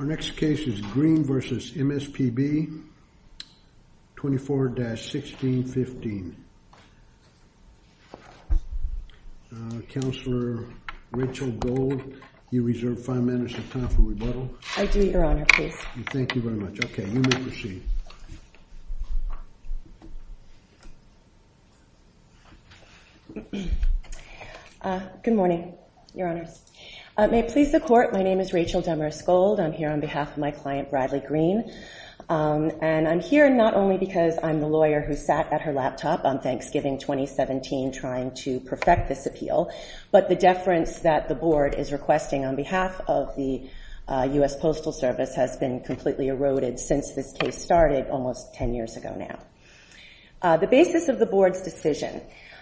Our next case is Green v. MSPB, 24-1615. Counselor Rachel Gold, you reserve five minutes of time for rebuttal. I do, Your Honor, please. Thank you very much. OK, you may proceed. Good morning, Your Honors. May it please the Court, my name is Rachel Demers Gold. I'm here on behalf of my client, Bradley Green. And I'm here not only because I'm the lawyer who sat at her laptop on Thanksgiving 2017 trying to perfect this appeal, but the deference that the board is requesting on behalf of the US Postal Service has been completely eroded since this case started almost 10 years ago now. The basis of the board's decision,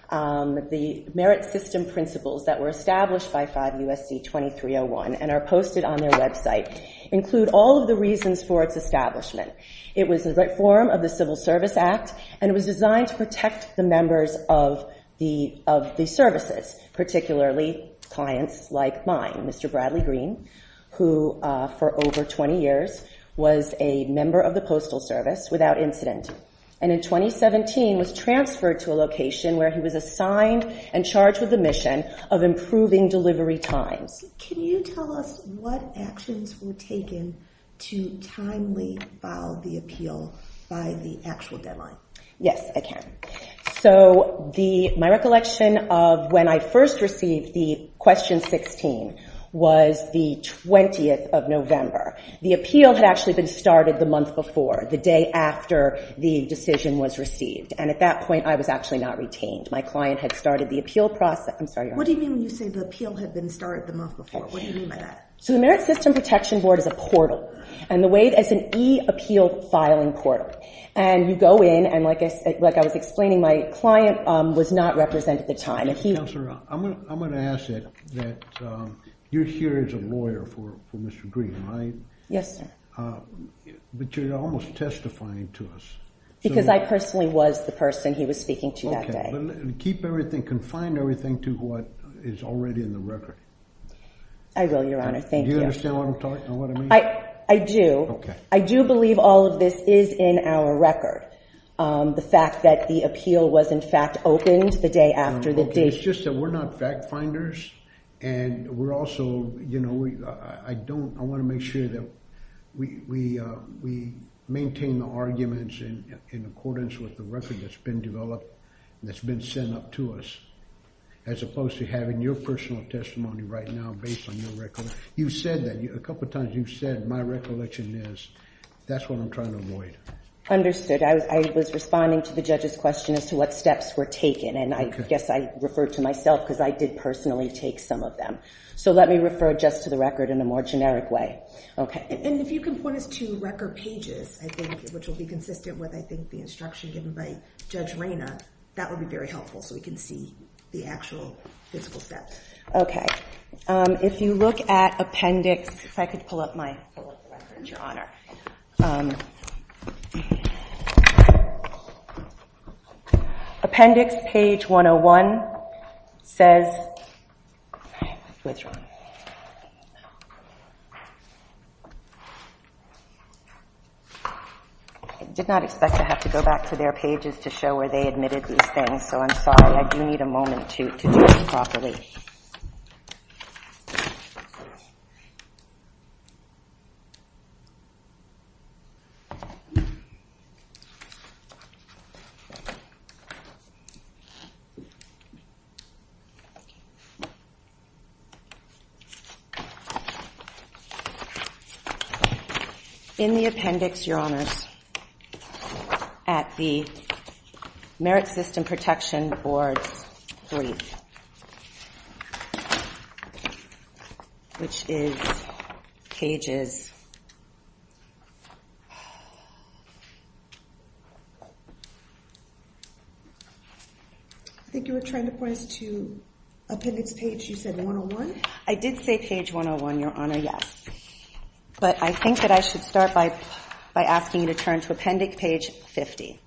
the merit system principles that were established by 5 U.S.C. 2301 and are posted on their website include all of the reasons for its establishment. It was a reform of the Civil Service Act, and it was designed to protect the members of the services, particularly clients like mine. Mr. Bradley Green, who for over 20 years was a member of the Postal Service without incident, and in 2017 was transferred to a location where he was assigned and charged with the mission of improving delivery times. Can you tell us what actions were taken to timely file the appeal by the actual deadline? Yes, I can. So my recollection of when I first received the question 16 was the 20th of November. The appeal had actually been started the month before, the day after the decision was received. And at that point, I was actually not retained. My client had started the appeal process. I'm sorry, your honor. What do you mean when you say the appeal had been started the month before? What do you mean by that? So the Merit System Protection Board is a portal. And the way it is an e-appeal filing portal. And you go in, and like I was explaining, my client was not represented at the time. Counselor, I'm going to ask that you're here as a lawyer for Mr. Green, right? Yes, sir. But you're almost testifying to us. Because I personally was the person he was speaking to that day. Keep everything, confine everything to what is already in the record. I will, your honor. Thank you. Do you understand what I'm talking, what I mean? I do. I do believe all of this is in our record. The fact that the appeal was, in fact, opened the day after the date. It's just that we're not fact finders. And we're also, you know, I want to make sure that we maintain the arguments in accordance with the record that's been developed and that's been sent up to us, as opposed to having your personal testimony right now based on your record. You've said that a couple times. You've said, my recollection is, that's what I'm trying to avoid. Understood. I was responding to the judge's question as to what steps were taken. And I guess I referred to myself, because I did personally take some of them. So let me refer just to the record in a more generic way. OK. And if you can point us to record pages, I think, which will be consistent with, I think, the instruction given by Judge Reyna, that would be very helpful. So we can see the actual physical steps. If you look at appendix, if I could pull up my record, Appendix, page 101, says, I withdraw. I did not expect to have to go back to their pages to show where they admitted these things. So I'm sorry. I do need a moment to do this properly. In the appendix, Your Honors, at the Merit System Protection Board brief, which is pages, I think you were trying to point us to appendix page, you said 101? I did say page 101, Your Honor, yes. But I think that I should start by asking you to turn to appendix page 50,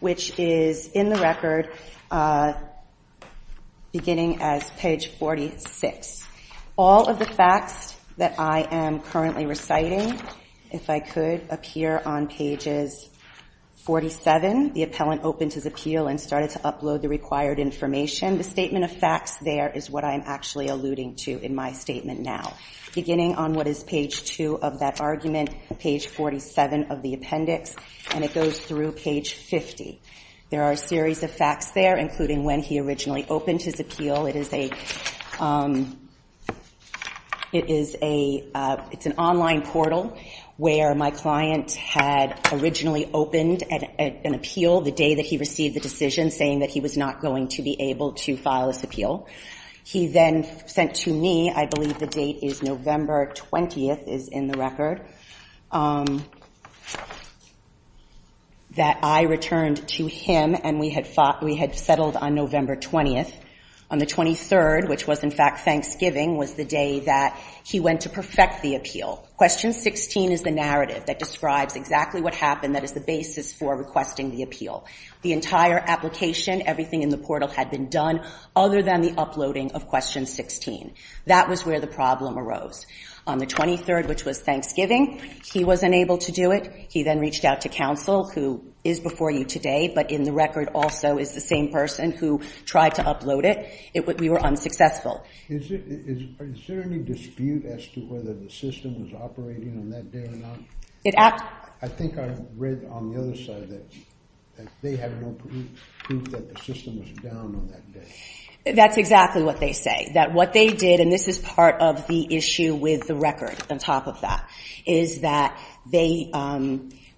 which is in the record, beginning as page 46. All of the facts that I am currently reciting, if I could, appear on pages 47. The appellant opened his appeal and started to upload the required information. The statement of facts there is what I'm actually alluding to in my statement now, beginning on what is page 2 of that argument, page 47 of the appendix. And it goes through page 50. There are a series of facts there, including when he originally opened his appeal. It is an online portal where my client had originally opened an appeal the day that he received the decision saying that he was not going to be able to file this appeal. He then sent to me, I believe the date is November 20th, is in the record, that I returned to him and we had settled on November 20th. On the 23rd, which was, in fact, Thanksgiving, was the day that he went to perfect the appeal. Question 16 is the narrative that describes exactly what happened that is the basis for requesting the appeal. The entire application, everything in the portal had been done other than the uploading of question 16. That was where the problem arose. On the 23rd, which was Thanksgiving, he wasn't able to do it. He then reached out to counsel, who is before you today, but in the record also is the same person who tried to upload it. We were unsuccessful. Is there any dispute as to whether the system was operating on that day or not? I think I read on the other side that they had more proof that the system was down on that day. That's exactly what they say, that what they did, and this is part of the issue with the record on top of that, is that the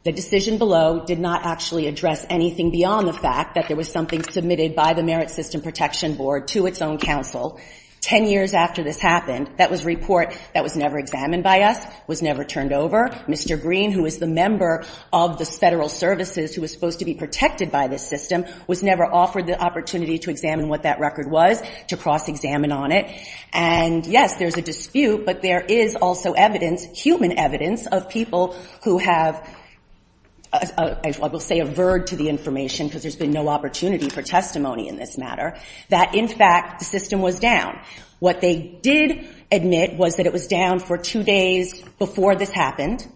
decision below did not actually address anything beyond the fact that there was something submitted by the Merit System Protection Board to its own counsel 10 years after this happened. That was a report that was never examined by us, was never turned over. Mr. Green, who is the member of the Federal Services, who was supposed to be protected by this system, was never offered the opportunity to examine what that record was, to cross-examine on it. And yes, there's a dispute, but there is also evidence, human evidence, of people who have, I will say, averred to the information, because there's been no opportunity for testimony in this matter, that, in fact, the system was down. What they did admit was that it was down for two days before this happened,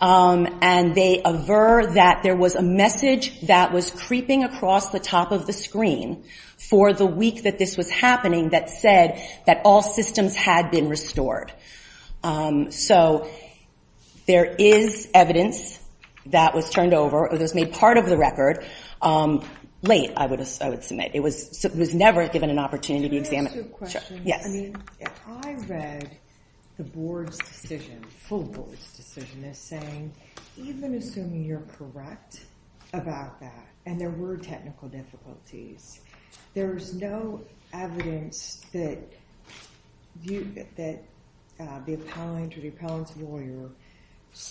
and they averred that there was a message that was creeping across the top of the screen for the week that this was happening that said that all systems had been restored. So there is evidence that was turned over, or that was made part of the record. Late, I would submit. It was never given an opportunity to examine. Can I ask you a question? Yes. I read the board's decision, full board's decision, as saying, even assuming you're correct about that, and there were technical difficulties, there is no evidence that the appellant or the appellant's lawyer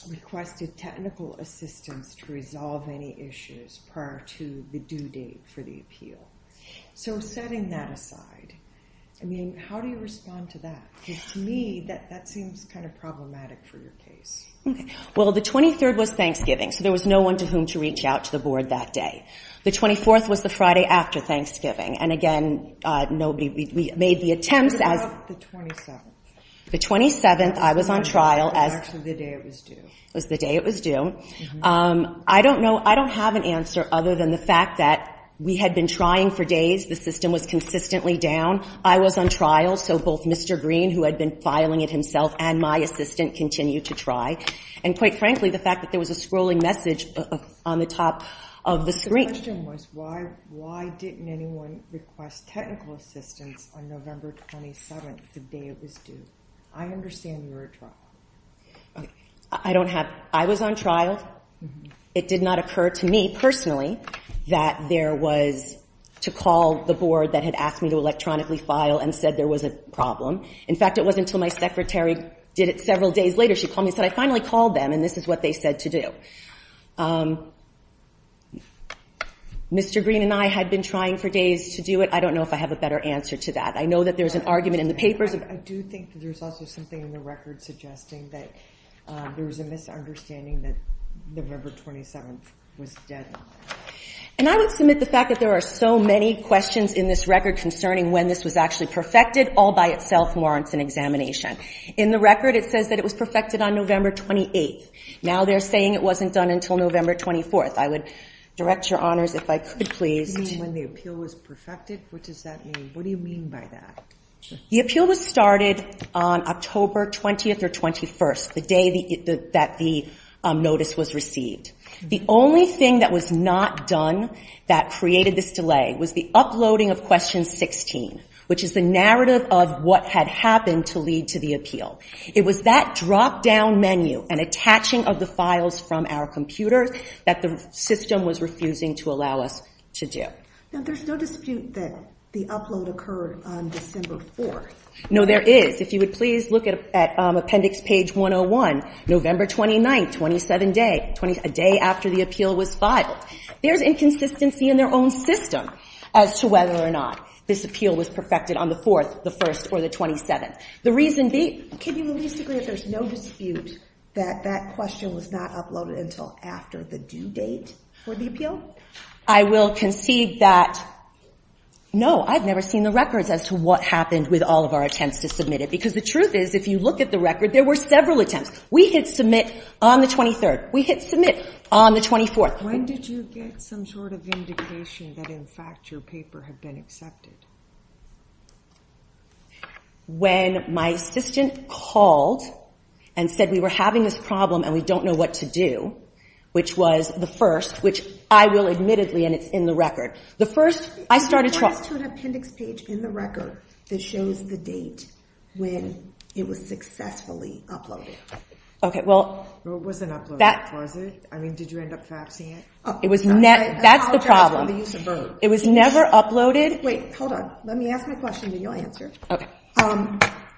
requested technical assistance to resolve any issues prior to the due date for the appeal. So setting that aside, I mean, how do you respond to that? Because to me, that seems kind of problematic for your case. Well, the 23rd was Thanksgiving, so there was no one to whom to reach out to the board that day. The 24th was the Friday after Thanksgiving. And again, we made the attempts as the 27th. The 27th, I was on trial as the day it was due. I don't know. I don't have an answer other than the fact that we had been trying for days. The system was consistently down. I was on trial, so both Mr. Green, who had been filing it himself, and my assistant continued to try. And quite frankly, the fact that there was a scrolling message on the top of the screen. The question was, why didn't anyone request technical assistance on November 27th, the day it was due? I understand you were on trial. I don't have. I was on trial. It did not occur to me personally that there was to call the board that had asked me to electronically file and said there was a problem. In fact, it wasn't until my secretary did it several days later. She called me and said, I finally called them, and this is what they said to do. Mr. Green and I had been trying for days to do it. I don't know if I have a better answer to that. I know that there's an argument in the papers. I do think that there's also something in the record suggesting that there was a misunderstanding that November 27th was dead. And I would submit the fact that there are so many questions in this record concerning when this was actually perfected all by itself warrants an examination. In the record, it says that it was perfected on November 28th. Now they're saying it wasn't done until November 24th. I would direct your honors, if I could, please. You mean when the appeal was perfected? What does that mean? What do you mean by that? The appeal was started on October 20th or 21st, the day that the notice was received. The only thing that was not done that created this delay was the uploading of question 16, which is the narrative of what had happened to lead to the appeal. It was that drop-down menu and attaching of the files from our computer that the system was refusing to allow us to do. Now there's no dispute that the upload occurred on December 4th. No, there is. If you would please look at appendix page 101, November 29th, 27 days, a day after the appeal was filed. There's inconsistency in their own system as to whether or not this appeal was perfected on the 4th, the 1st, or the 27th. The reason being, can you at least agree that there's no dispute that that question was not uploaded until after the due date for the appeal? I will concede that no, I've never seen the records as to what happened with all of our attempts to submit it. Because the truth is, if you look at the record, there were several attempts. We hit Submit on the 23rd. We hit Submit on the 24th. When did you get some sort of indication that, in fact, your paper had been accepted? When my assistant called and said we were having this problem and we don't know what to do, which was the first, which I will admittedly, and it's in the record. The first, I started trying to talk. What is to an appendix page in the record that shows the date when it was successfully uploaded? OK, well. Well, it wasn't uploaded. Was it? I mean, did you end up faxing it? It was not. That's the problem. It was never uploaded. Wait, hold on. Let me ask my question, then you'll answer.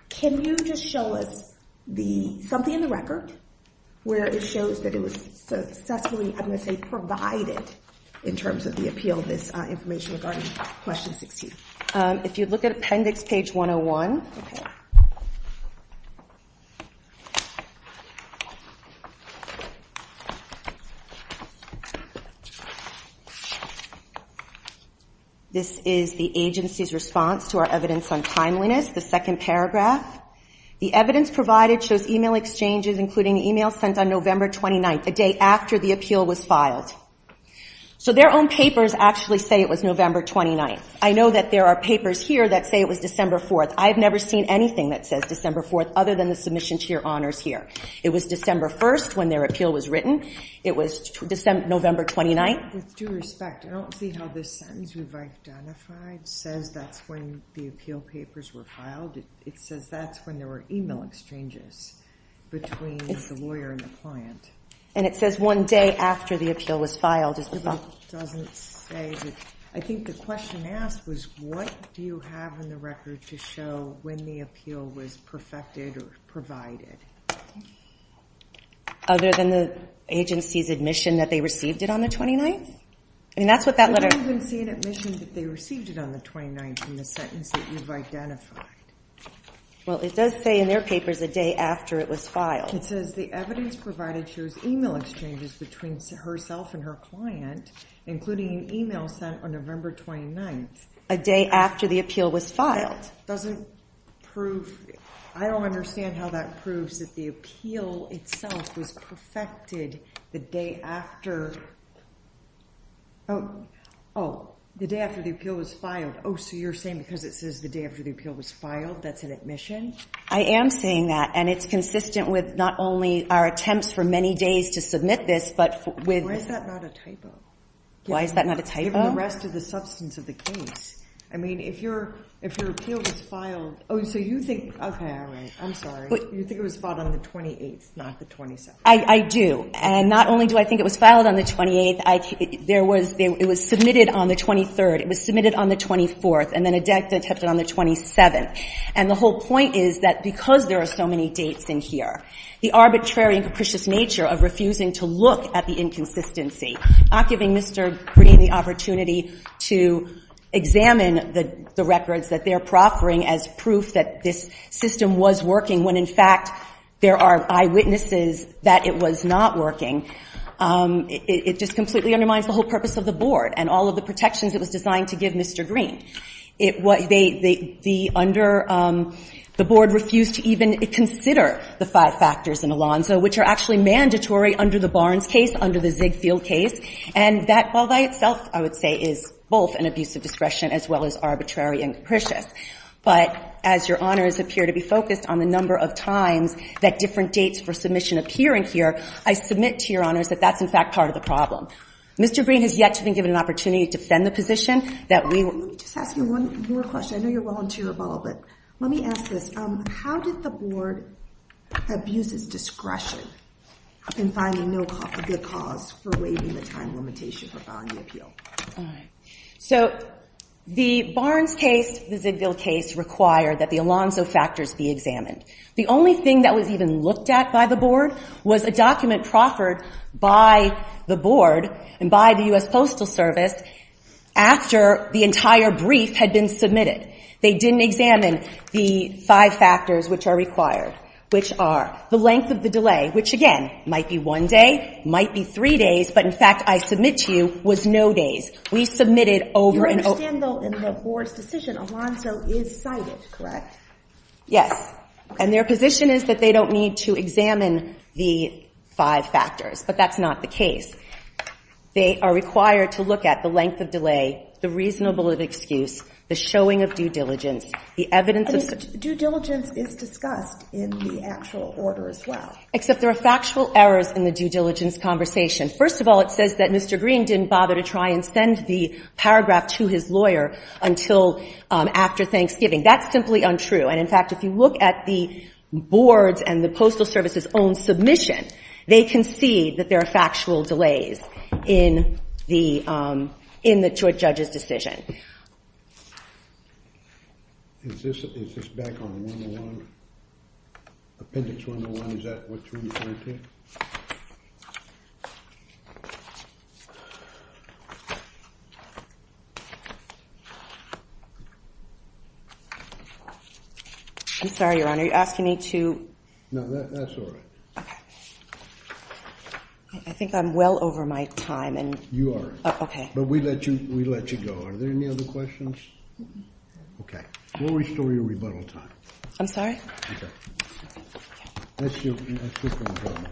Can you just show us something in the record where it shows that it was successfully, I'm going to say, provided, in terms of the appeal, this information regarding question 16? If you look at appendix page 101. This is the agency's response to our evidence on timeliness, the second paragraph. The evidence provided shows email exchanges, including the email sent on November 29, the day after the appeal was filed. So their own papers actually say it was November 29. I know that there are papers here that say it was December 4. I've never seen anything that says December 4 other than the submission to your honors here. It was December 1 when their appeal was written. It was December 2 when their appeal was written. It was November 29. With due respect, I don't see how this sentence we've identified says that's when the appeal papers were filed. It says that's when there were email exchanges between the lawyer and the client. And it says one day after the appeal was filed. It doesn't say that. I think the question asked was, what do you have in the record to show when the appeal was perfected or provided? Other than the agency's admission that they received it on the 29th? I mean, that's what that letter. I don't even see an admission that they received it on the 29th in the sentence that you've identified. Well, it does say in their papers a day after it was filed. It says the evidence provided shows email exchanges between herself and her client, including an email sent on November 29. A day after the appeal was filed. Doesn't prove. I don't understand how that proves that the appeal itself was perfected the day after. Oh, the day after the appeal was filed. Oh, so you're saying because it says the day after the appeal was filed, that's an admission? I am saying that. And it's consistent with not only our attempts for many days to submit this, but with. Why is that not a typo? Why is that not a typo? Given the rest of the substance of the case. I mean, if your appeal was filed. Oh, so you think. OK, all right. I'm sorry. You think it was filed on the 28th, not the 27th. I do. And not only do I think it was filed on the 28th, there was, it was submitted on the 23rd. It was submitted on the 24th. And then a death detected on the 27th. And the whole point is that because there are so many dates in here, the arbitrary and capricious nature of refusing to look at the inconsistency, not giving Mr. Green the opportunity to examine the records that they're proffering as proof that this system was working, when in fact, there are eyewitnesses that it was not working. It just completely undermines the whole purpose of the board and all of the protections it was designed to give Mr. Green. The board refused to even consider the five factors in Alonzo, which are actually mandatory under the Barnes case, under the Ziegfeld case. And that by itself, I would say, is both an abuse of discretion as well as arbitrary and capricious. But as your honors appear to be focused on the number of times that different dates for submission appear in here, I submit to your honors that that's, in fact, part of the problem. Mr. Green has yet to been given an opportunity to defend the position that we will. Let me just ask you one more question. I know you're a volunteer of all, but let me ask this. How did the board abuse its discretion in finding no good cause for waiving the time limitation for filing the appeal? So the Barnes case, the Ziegfeld case, required that the Alonzo factors be examined. The only thing that was even looked at by the board was a document proffered by the board and by the US Postal Service after the entire brief had been submitted. They didn't examine the five factors which are required, which are the length of the delay, which, again, might be one day, might be three days, but in fact, I submit to you was no days. We submitted over and over. You understand, though, in the board's decision, Alonzo is cited, correct? Yes. And their position is that they don't need to examine the five factors, but that's not the case. They are required to look at the length of delay, the reasonable of excuse, the showing of due diligence, the evidence of such. Due diligence is discussed in the actual order as well. Except there are factual errors in the due diligence conversation. First of all, it says that Mr. Green didn't bother to try and send the paragraph to his lawyer until after Thanksgiving. That's simply untrue. And in fact, if you look at the board's and the Postal Service's own submission, they can see that there are factual delays in the judge's decision. Is this back on 101? Appendix 101, is that what you're referring to? I'm sorry, Your Honor. Are you asking me to? No, that's all right. OK. I think I'm well over my time. You are. Oh, OK. But we let you go. Are there any other questions? OK. We'll restore your rebuttal time. I'm sorry? OK. Let's do a quick one for me now.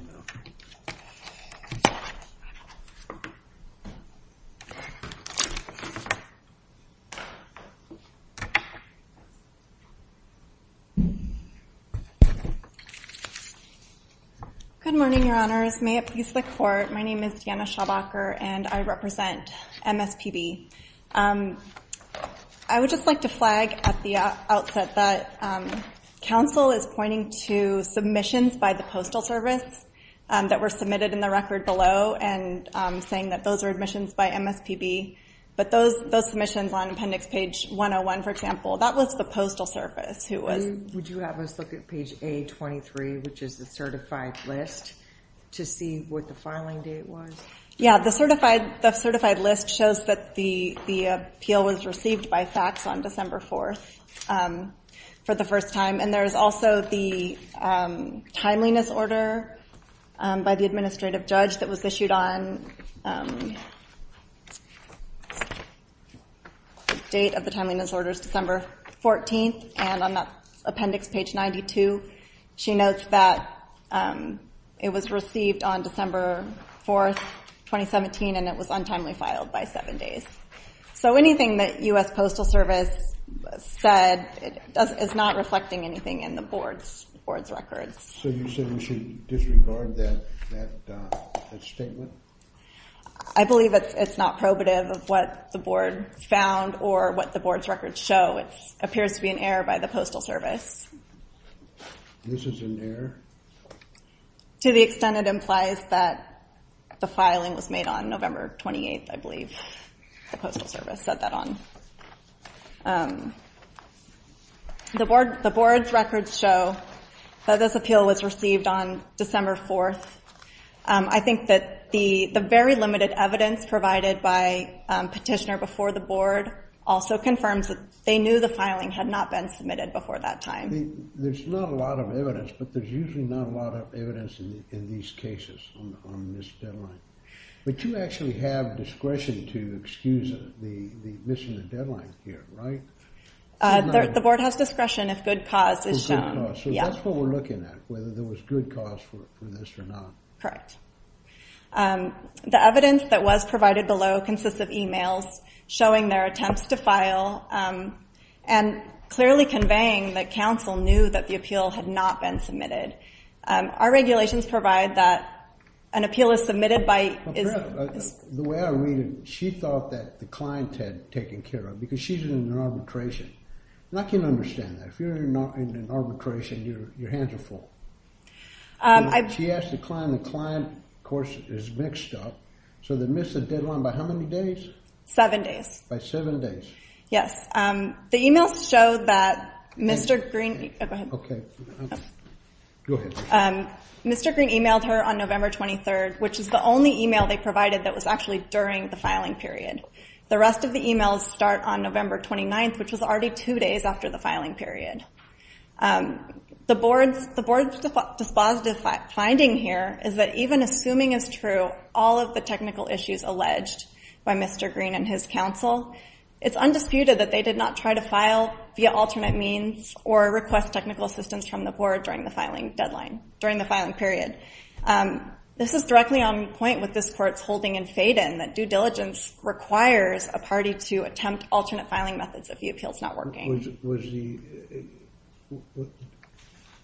Good morning, Your Honors. May it please the Court, my name is Deanna Schaubacher, and I represent MSPB. I would just like to flag at the outset that counsel is pointing to submissions by the Postal Service that were submitted in the record below and saying that those are admissions by MSPB. But those submissions on appendix page 101, for example, that was the Postal Service who was. Would you have us look at page A23, which is the certified list, to see what the filing date was? Yeah, the certified list shows that the appeal was received by fax on December 4th for the first time. And there is also the timeliness order by the administrative judge that was issued on the date of the timeliness orders, December 14th. And on that appendix, page 92, she notes that it was received on December 4th, 2017, and it was untimely filed by seven days. So anything that US Postal Service said is not reflecting anything in the board's records. So you said we should disregard that statement? I believe it's not probative of what the board found or what the board's records show. It appears to be an error by the Postal Service. This is an error? To the extent it implies that the filing was made on November 28th, I believe the Postal Service said that on the board's records show that this appeal was received on December 4th. I think that the very limited evidence provided by petitioner before the board also confirms that they knew the filing had not been submitted before that time. There's not a lot of evidence, but there's usually not a lot of evidence in these cases on this deadline. But you actually have discretion to excuse the missing the deadline here, right? The board has discretion if good cause is shown. So that's what we're looking at, whether there was good cause for this or not. Correct. The evidence that was provided below consists of emails showing their attempts to file and clearly conveying that counsel knew that the appeal had not been submitted. Our regulations provide that an appeal is submitted by is. The way I read it, she thought that the client had taken care of it, because she's in an arbitration. And I can understand that. If you're in an arbitration, your hands are full. She asked the client, and the client, of course, is mixed up. So they missed the deadline by how many days? Seven days. By seven days. Yes. The emails show that Mr. Green, oh, go ahead. OK. Go ahead. Mr. Green emailed her on November 23rd, which is the only email they provided that was actually during the filing period. The rest of the emails start on November 29th, which was already two days after the filing period. The board's dispositive finding here is that even assuming is true all of the technical issues alleged by Mr. Green and his counsel, it's undisputed that they did not try to file via alternate means or request technical assistance from the board during the filing period. This is directly on point with this court's holding in Faden, that due diligence requires a party to attempt alternate filing methods if the appeal's not working. Was the,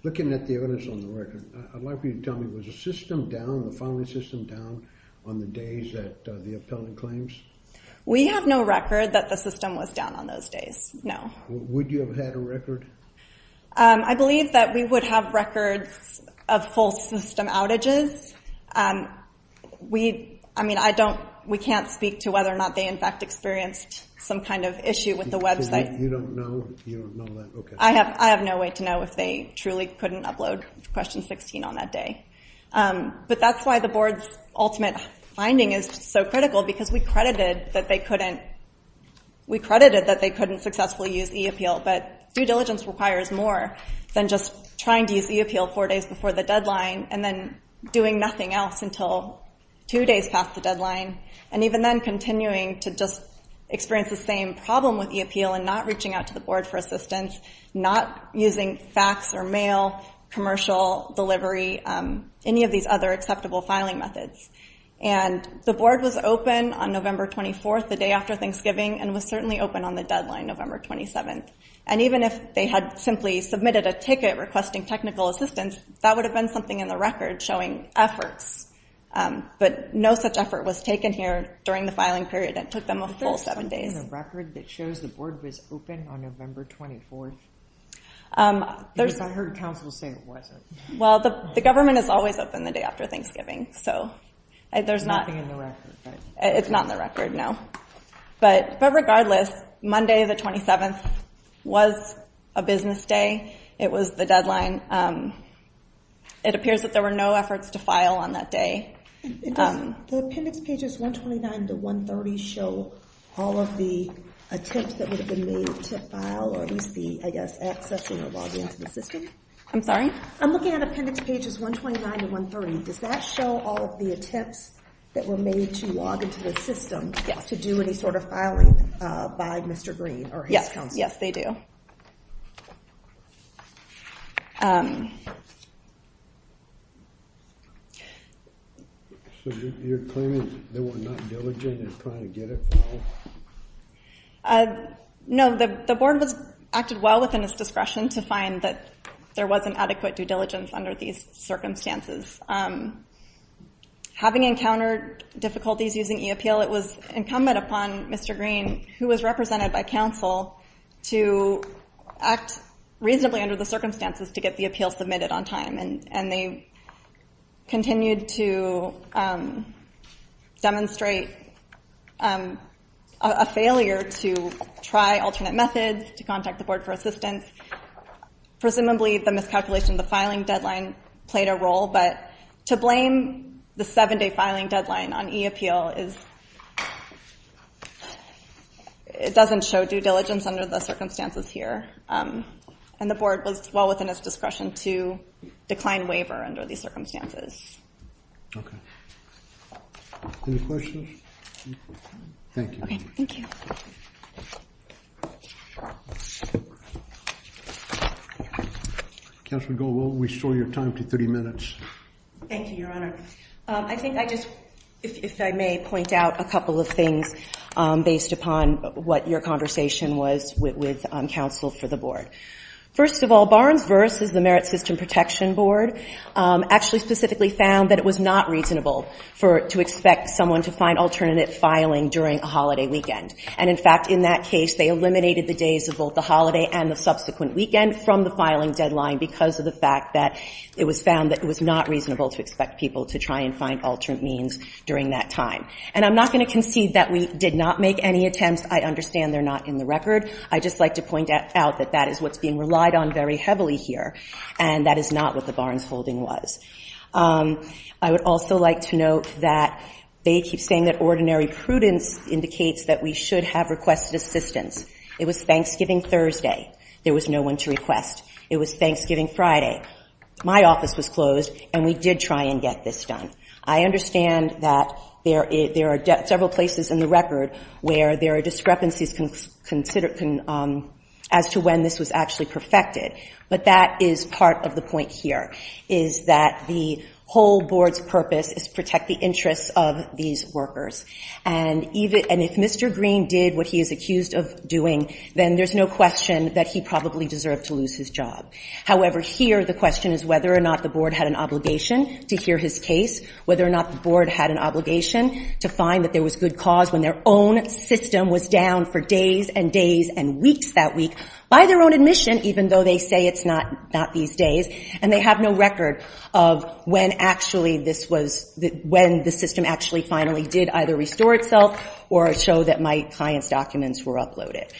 looking at the evidence on the record, I'd like for you to tell me, was the system down, the filing system down on the days that the appellant claims? We have no record that the system was down on those days. No. Would you have had a record? I believe that we would have records of full system outages. I mean, I don't, we can't speak to whether or not they, in fact, experienced some kind of issue with the website. You don't know that, OK. I have no way to know if they truly couldn't upload question 16 on that day. But that's why the board's ultimate finding is so critical, because we credited that they couldn't, we credited that they couldn't successfully use e-appeal. But due diligence requires more than just trying to use e-appeal four days before the deadline, and then doing nothing else until two days past the deadline, and even then continuing to just experience the same problem with e-appeal and not reaching out to the board for assistance, not using fax or mail, commercial, delivery, any of these other acceptable filing methods. And the board was open on November 24, the day after Thanksgiving, and was certainly open on the deadline, November 27. And even if they had simply submitted a ticket requesting technical assistance, that would have been something in the record showing efforts. But no such effort was taken here during the filing period. It took them a full seven days. Is there something in the record that shows the board was open on November 24? Because I heard counsel say it wasn't. Well, the government is always open the day after Thanksgiving, so there's not. Nothing in the record, right? It's not in the record, no. But regardless, Monday the 27th was a business day. It was the deadline. It appears that there were no efforts to file on that day. The appendix pages 129 to 130 show all of the attempts that would have been made to file, or at least be, I guess, accessing or logging into the system? I'm sorry? I'm looking at appendix pages 129 to 130. Does that show all of the attempts that were made to log into the system to do any sort of filing by Mr. Green or his counsel? Yes, they do. So you're claiming they were not diligent in trying to get it filed? No, the board acted well within its discretion to find that there wasn't adequate due diligence under these circumstances. Having encountered difficulties using e-Appeal, it was incumbent upon Mr. Green, who was represented by counsel, to act reasonably under the circumstances to get the appeal submitted on time. And they continued to demonstrate a failure to try alternate methods, to contact the board for assistance. Presumably, the miscalculation of the filing deadline played a role. But to blame the seven-day filing deadline on e-Appeal is, it doesn't show due diligence under the circumstances here. And the board was well within its discretion to decline waiver under these circumstances. OK. Any questions? Thank you. Thank you. Counselor Goh, we'll restore your time to 30 minutes. Thank you, Your Honor. I think I just, if I may, point out a couple of things based upon what your conversation was with counsel for the board. First of all, Barnes v. The Merit System Protection Board actually specifically found that it was not reasonable to expect someone to find alternate filing during a holiday weekend. And in fact, in that case, they eliminated the days of both the holiday and the subsequent weekend from the filing deadline because of the fact that it was found that it was not reasonable to expect people to try and find alternate means during that time. And I'm not going to concede that we did not make any attempts. I understand they're not in the record. I'd just like to point out that that is what's being relied on very heavily here. And that is not what the Barnes holding was. I would also like to note that they keep saying that ordinary prudence indicates that we should have requested assistance. It was Thanksgiving Thursday. There was no one to request. It was Thanksgiving Friday. My office was closed, and we did try and get this done. I understand that there are several places in the record where there are discrepancies as to when this was actually perfected. But that is part of the point here, is that the whole board's purpose is to protect the interests of these workers. And if Mr. Green did what he is accused of doing, then there's no question that he probably deserved to lose his job. However, here the question is whether or not the board had an obligation to hear his case, whether or not the board had an obligation to find that there was good cause when their own system was down for days and days and weeks that week by their own admission, even though they say it's not these days. And they have no record of when the system actually finally did either restore itself or show that my client's documents were uploaded.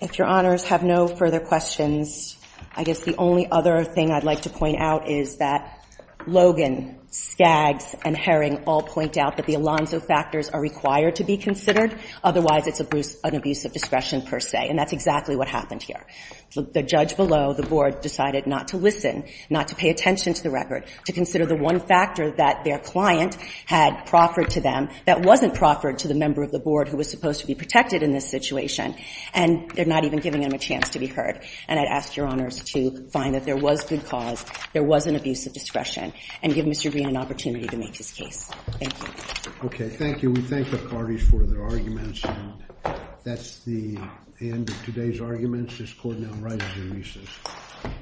If your honors have no further questions, I guess the only other thing I'd like to point out is that Logan, Skaggs, and Herring all point out that the Alonzo factors are required to be considered. Otherwise, it's an abuse of discretion per se. And that's exactly what happened here. The judge below the board decided not to listen, not to pay attention to the record, to consider the one factor that their client had proffered to them that wasn't proffered to the member of the board who was supposed to be protected in this situation. And they're not even giving him a chance to be heard. And I'd ask your honors to find that there was good cause, there was an abuse of discretion, and give Mr. Green an opportunity to make his case. Thank you. OK, thank you. We thank the parties for their arguments. That's the end of today's arguments. This court now writes the recess.